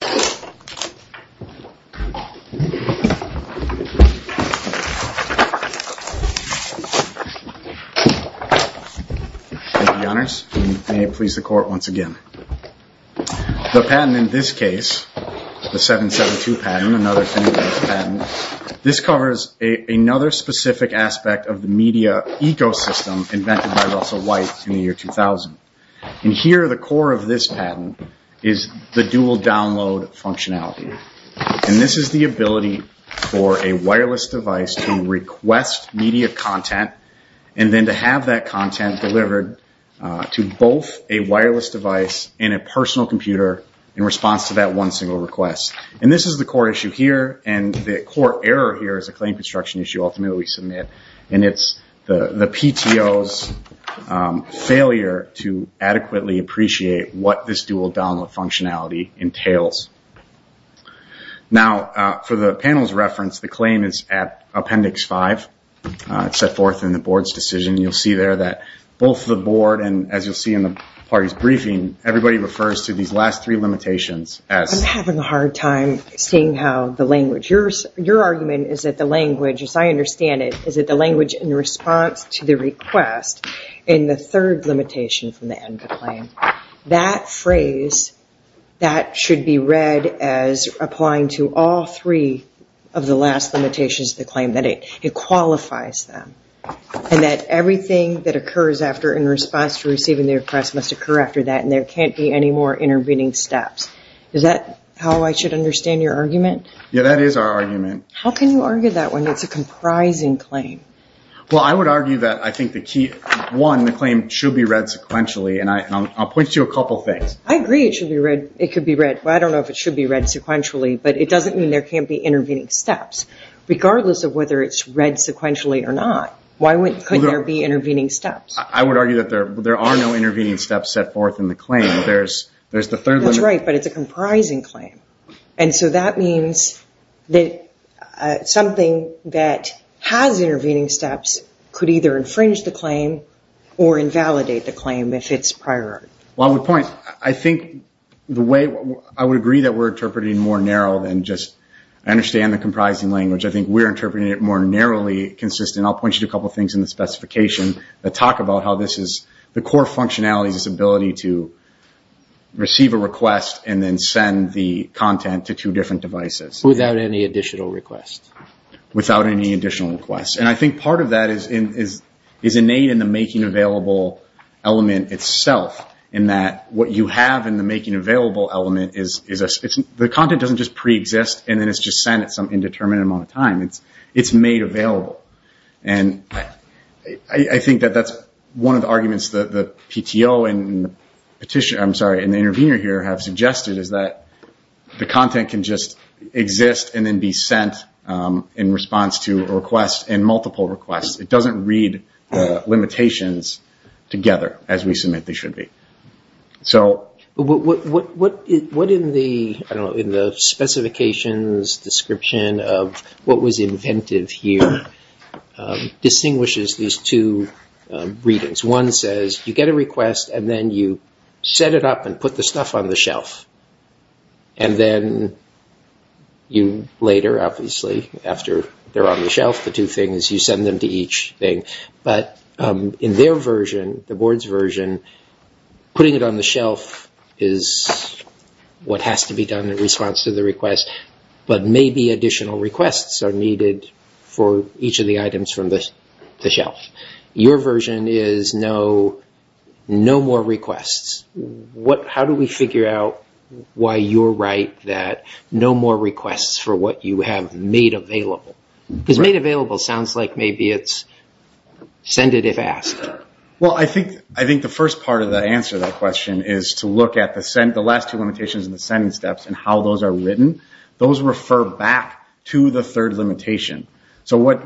Thank you, Your Honors, and may it please the Court once again. The patent in this case, the 772 patent, another 10-page patent, this covers another specific aspect of the media ecosystem invented by Russell White in the year 2000. Here, the core of this patent is the dual download functionality. This is the ability for a wireless device to request media content and then to have that content delivered to both a wireless device and a personal computer in response to that one single request. This is the core issue here, and the core error here is a claim construction issue ultimately and it's the PTO's failure to adequately appreciate what this dual download functionality entails. Now, for the panel's reference, the claim is at Appendix 5. It's set forth in the Board's decision. You'll see there that both the Board and, as you'll see in the party's briefing, everybody refers to these last three limitations as... I'm having a hard time seeing how the language... Your argument is that the language, as I understand it, is that the language in response to the request in the third limitation from the end of the claim, that phrase, that should be read as applying to all three of the last limitations of the claim, that it qualifies them and that everything that occurs after in response to receiving the request must occur after that and there can't be any more intervening steps. Is that how I should understand your argument? Yeah, that is our argument. How can you argue that when it's a comprising claim? Well, I would argue that I think the key... One, the claim should be read sequentially, and I'll point to a couple of things. I agree it should be read. It could be read. I don't know if it should be read sequentially, but it doesn't mean there can't be intervening steps, regardless of whether it's read sequentially or not. Why couldn't there be intervening steps? I would argue that there are no intervening steps set forth in the claim. There's the third... That's right, but it's a comprising claim. That means that something that has intervening steps could either infringe the claim or invalidate the claim if it's prior. Well, I would point... I think the way... I would agree that we're interpreting more narrow than just... I understand the comprising language. I think we're interpreting it more narrowly consistent. I'll point you to a couple of things in the specification that talk about how this is... The core functionality is this ability to receive a request and then send the content to two different devices. Without any additional request. Without any additional request. I think part of that is innate in the making available element itself, in that what you have in the making available element is... The content doesn't just pre-exist, and then it's just sent at some indeterminate amount of time. It's made available. I think that that's one of the arguments that the PTO and the intervener here have suggested, is that the content can just exist and then be sent in response to a request and multiple requests. It doesn't read limitations together as we submit they should be. So... What in the specifications description of what was invented here distinguishes these two readings? One says you get a request and then you set it up and put the stuff on the shelf. And then you later, obviously, after they're on the shelf, the two things, you it on the shelf is what has to be done in response to the request, but maybe additional requests are needed for each of the items from the shelf. Your version is no more requests. How do we figure out why you're right that no more requests for what you have made available? Because made available sounds like maybe it's send it if asked. Well, I think the first part of the answer to that question is to look at the last two limitations in the sending steps and how those are written. Those refer back to the third limitation. So what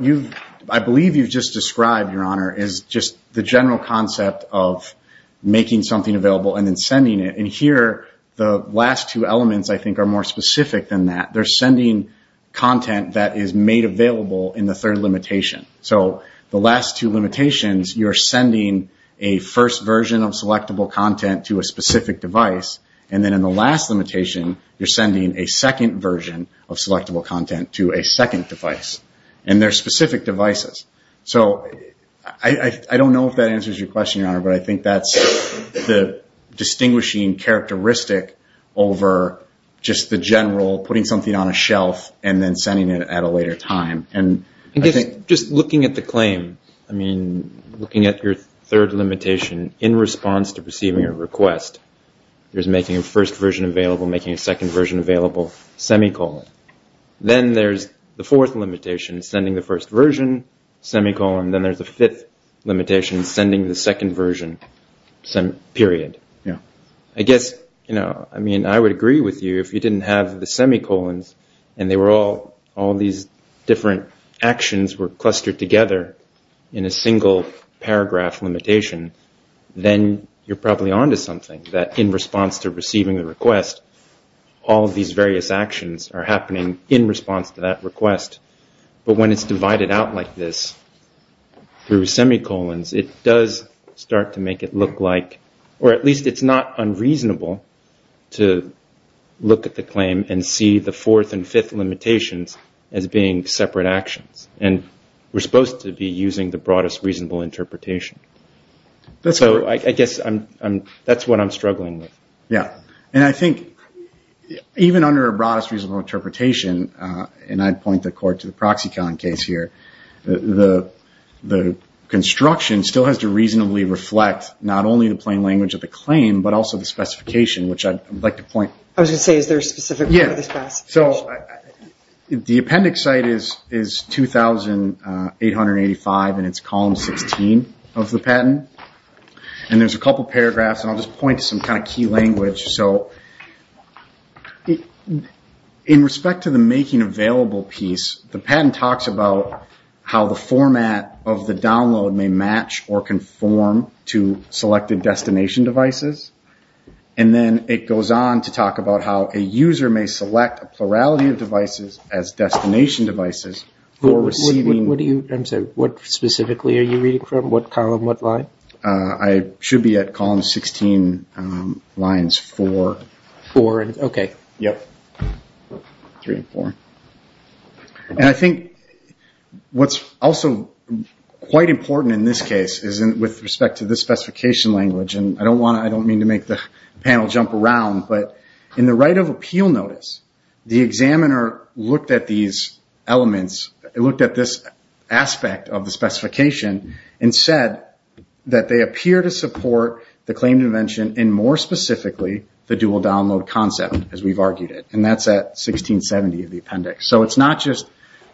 I believe you've just described, Your Honor, is just the general concept of making something available and then sending it. And here, the last two elements, I think, are more specific than that. They're sending content that is made available in the third limitation. So the last two limitations, you're sending a first version of selectable content to a specific device. And then in the last limitation, you're sending a second version of selectable content to a second device. And they're specific devices. So I don't know if that answers your question, Your Honor, but I think that's the distinguishing characteristic over just the general putting something on a shelf and then sending it at a later time. And just looking at the claim, I mean, looking at your third limitation in response to receiving a request, there's making a first version available, making a second version available, semicolon. Then there's the fourth limitation, sending the first version, semicolon. Then there's a fifth limitation, sending the second version, period. I guess, I mean, I would assume that if these different actions were clustered together in a single paragraph limitation, then you're probably on to something. That in response to receiving a request, all these various actions are happening in response to that request. But when it's divided out like this through semicolons, it does start to make it look like, or at least it's not separate actions. And we're supposed to be using the broadest reasonable interpretation. So I guess that's what I'm struggling with. Yeah. And I think even under a broadest reasonable interpretation, and I'd point the court to the Proxicon case here, the construction still has to reasonably reflect not only the plain language of the claim, but also the specification, which I'd like to point... I was going to say, is there a specific way to discuss? So the appendix site is 2885 and it's column 16 of the patent. And there's a couple paragraphs, and I'll just point to some kind of key language. So in respect to the making available piece, the patent talks about how the format of the download may match or conform to selected plurality of devices as destination devices for receiving... I'm sorry, what specifically are you reading from? What column, what line? I should be at column 16 lines four. Four. Okay. Yep. Three and four. And I think what's also quite important in this case is with respect to the specification language, and I don't want to, I don't mean to make the panel jump around, but in the right of appeal notice, the examiner looked at these elements, looked at this aspect of the specification and said that they appear to support the claim dimension and more specifically, the dual download concept, as we've argued it. And that's at 1670 of the appendix. So it's not just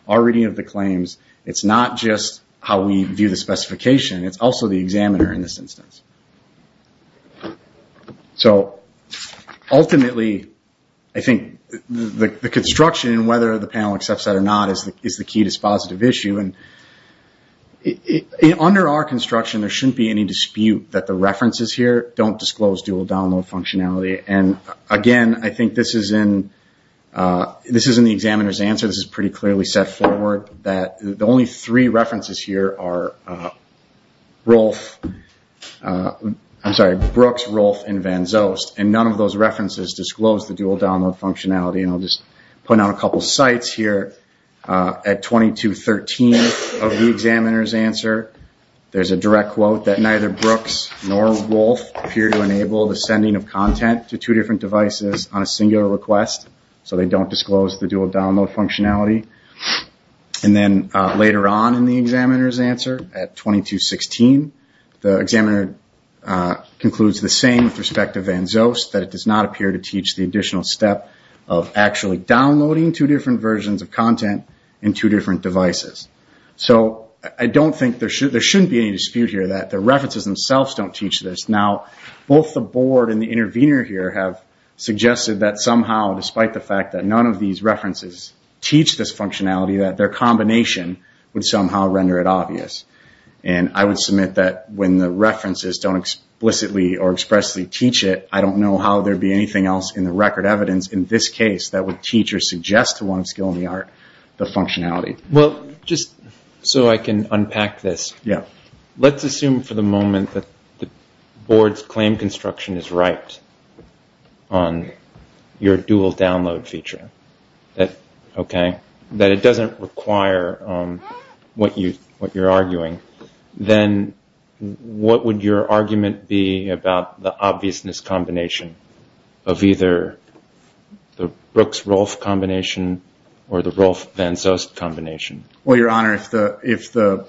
our reading of the claims. It's not just how we view the specification. It's also the examiner in this instance. So ultimately, I think the construction and whether the panel accepts that or not is the key to this positive issue. And under our construction, there shouldn't be any dispute that the references here don't disclose dual download functionality. And again, I think this is in the examiner's answer. This is pretty clearly set forward that the only three references here are Rolf, I'm sorry, Brooks, Rolf, and Van Zost. And none of those references disclose the dual download functionality. And I'll just put out a couple of sites here at 2213 of the examiner's answer. There's a direct quote that neither Brooks nor Rolf appear to enable the sending of content to two different devices on a singular request. So they don't disclose the dual download functionality. And then later on in the examiner's answer at 2216, the examiner concludes the same with respect to Van Zost, that it does not appear to teach the additional step of actually downloading two different versions of content in two different devices. So I don't think there should be any dispute here that the references themselves don't teach this. Now, both the board and the intervener here have suggested that somehow, despite the fact that none of these references teach this functionality, that their combination would somehow render it obvious. And I would submit that when the references don't explicitly or expressly teach it, I don't know how there'd be anything else in the record evidence in this case that would teach or suggest to one of Skill in the Art the functionality. Well, just so I can unpack this, let's assume for the moment that the board's claim construction is right on your dual download feature, that it doesn't require what you're arguing. Then what would your argument be about the obviousness combination of either the Brooks-Rolfe combination or the Rolfe-Van Zost combination? Well, Your Honor, if the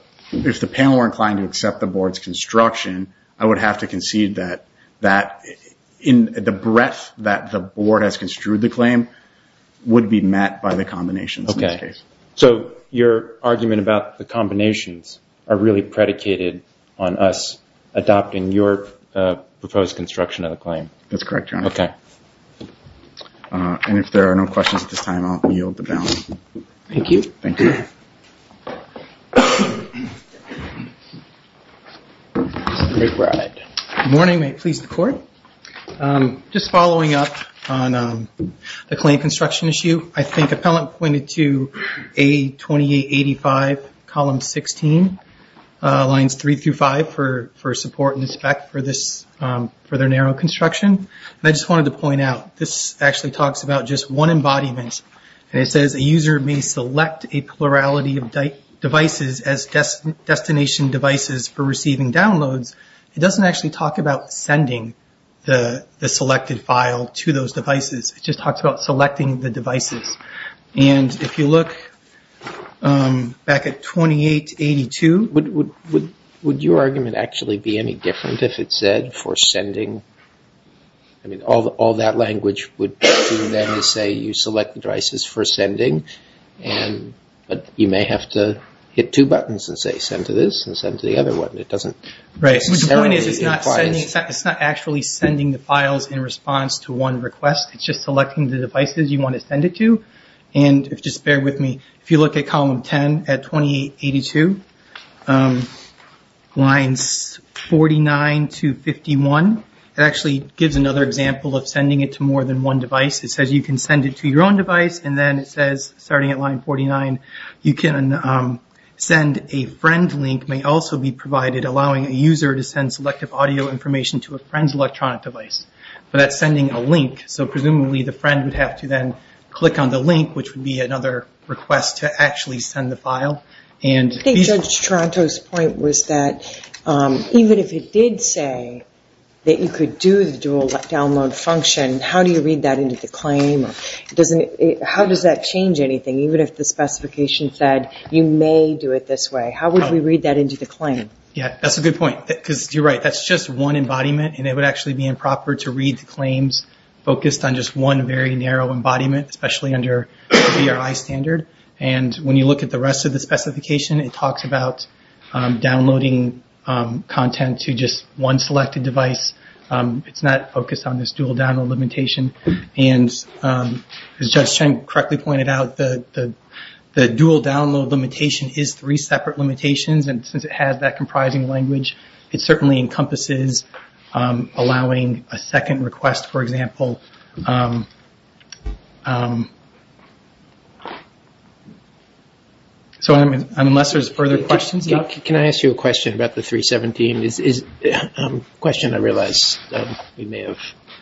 panel were inclined to accept the board's construction, I would have to concede that the breadth that the board has construed the claim would be met by the combinations in this case. Okay. So your argument about the combinations are really predicated on us adopting your proposed construction of the claim? That's correct, Your Honor. Okay. And if there are no questions at this time, I'll yield the balance. Thank you. Thank you. Good morning. May it please the Court? Just following up on the claim construction issue, I think appellant pointed to A2885, column 16, lines 3 through 5 for support and inspect for this, for their narrow construction. And I just wanted to point out, this actually talks about just one embodiment. And it says, a user may select a plurality of devices as destination devices for receiving downloads. It doesn't actually talk about sending the selected file to those devices. It just talks about selecting the devices. And if you look back at 2882, would your argument actually be any different if it said for sending? I mean, all that language would do then is say you select the devices for sending, but you may have to hit two buttons and say send to this and send to the other one. Right. The point is, it's not actually sending the files in response to one request. It's just selecting the devices you want to send it to. And just bear with me. If you look at column 10 at 2882, lines 49 to 51, it actually gives another example of sending it to more than one device. It says you can send it to your own device and then it says, starting at line 49, you can send a friend link, may also be provided allowing a user to send selective audio information to a friend's electronic device. But that's sending a link. So presumably the friend would have to then click on the link, which would be another request to actually send the file. I think Judge Tronto's point was that even if it did say that you could do the dual download function, how do you read that into the claim? How does that change anything? Even if the specification said you may do it this way, how would we read that into the claim? Yeah, that's a good point. Because you're right. That's just one embodiment and it would actually be improper to read the claims focused on just one very narrow embodiment, especially under the VRI standard. And when you look at the rest of the specification, it talks about downloading content to just one selected device. It's not focused on this dual download limitation. And as Judge Cheng correctly pointed out, the dual download limitation is three separate limitations. And since it has that comprising language, it certainly encompasses allowing a second request, for example. So unless there's further questions... Can I ask you a question about the 317? A question I realized we may have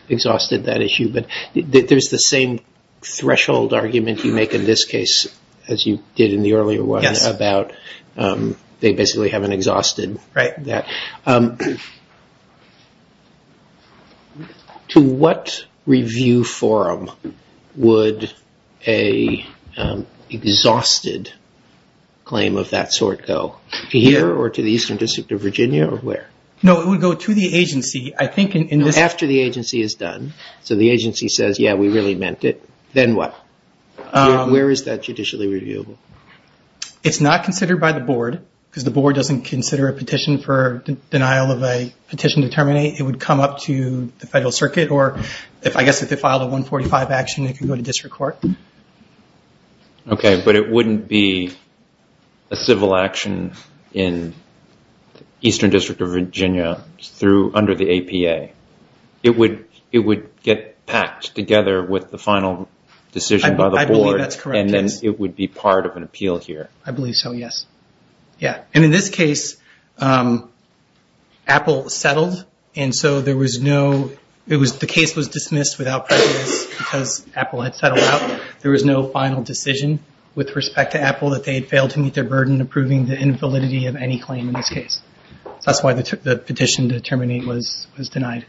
exhausted that issue, but there's the same threshold argument you make in this case as you did in the earlier one about they basically haven't exhausted that. To what review forum would a exhausted claim of that sort go? Here or to the Eastern District of Virginia or where? No, it would go to the agency. I think in this... After the agency is done. So the agency says, yeah, we really meant it. Then what? Where is that judicially reviewable? It's not considered by the board because the board doesn't consider a petition for denial of a petition to terminate. It would come up to the Federal Circuit or I guess if they filed a 145 action, it could go to district court. Okay, but it wouldn't be a civil action in Eastern District of Virginia under the APA. It would get packed together with the final decision by the board. I believe that's correct. And then it would be part of an appeal here. I believe so, yes. Yeah, and in this case, Apple settled. And so there was no... The case was dismissed without prejudice because Apple had settled out. There was no final decision with respect to Apple that they had failed to meet their burden approving the invalidity of any claim in this case. So that's why the petition to terminate was denied.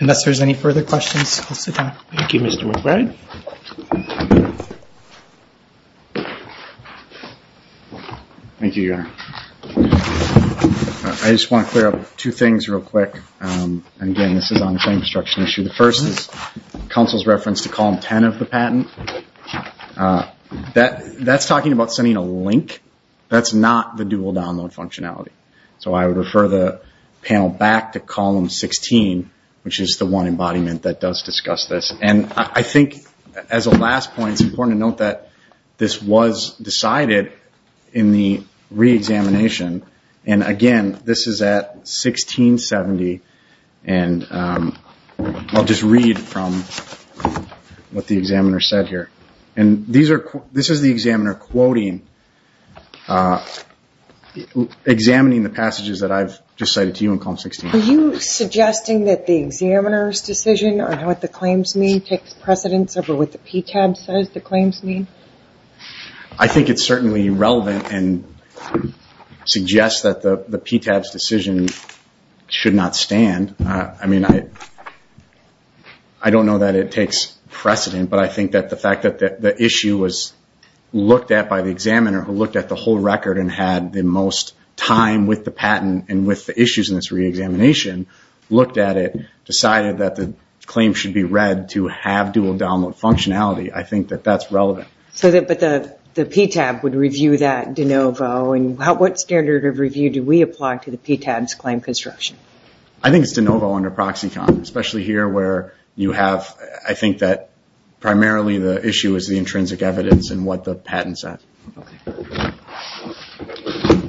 Unless there's any further questions, I'll sit down. Thank you, Mr. McBride. Thank you, Your Honor. I just want to clear up two things real quick. Again, this is on the same construction issue. The first is counsel's reference to column 10 of the patent. That's talking about sending a link. That's not the dual download functionality. So I would refer the panel back to column 16, which is the one embodiment that does discuss this. And I think as a last point, it's important to note that this was decided in the re-examination. And again, this is at 1670. And I'll just read from what the examiner said here. And this is the examiner quoting, examining the passages that I've just cited to you in column 16. Are you suggesting that the examiner's decision or what the claims mean takes precedence over what the PTAB says the claims mean? I think it's certainly relevant and suggests that the PTAB's decision should not stand. I mean, I don't know that it takes precedent. But I think that the fact that the issue was looked at by the examiner who looked at the whole record and had the most time with the patent and with the issues in this re-examination looked at it, decided that the claim should be read to have dual download functionality. I think that that's relevant. But the PTAB would review that de novo. And what standard of review do we apply to the PTAB's claim construction? I think it's de novo under Proxicon, especially here where you have, I think that primarily the issue is the intrinsic evidence and what the patent said.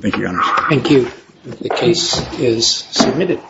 Thank you, Your Honor. Thank you. The case is submitted.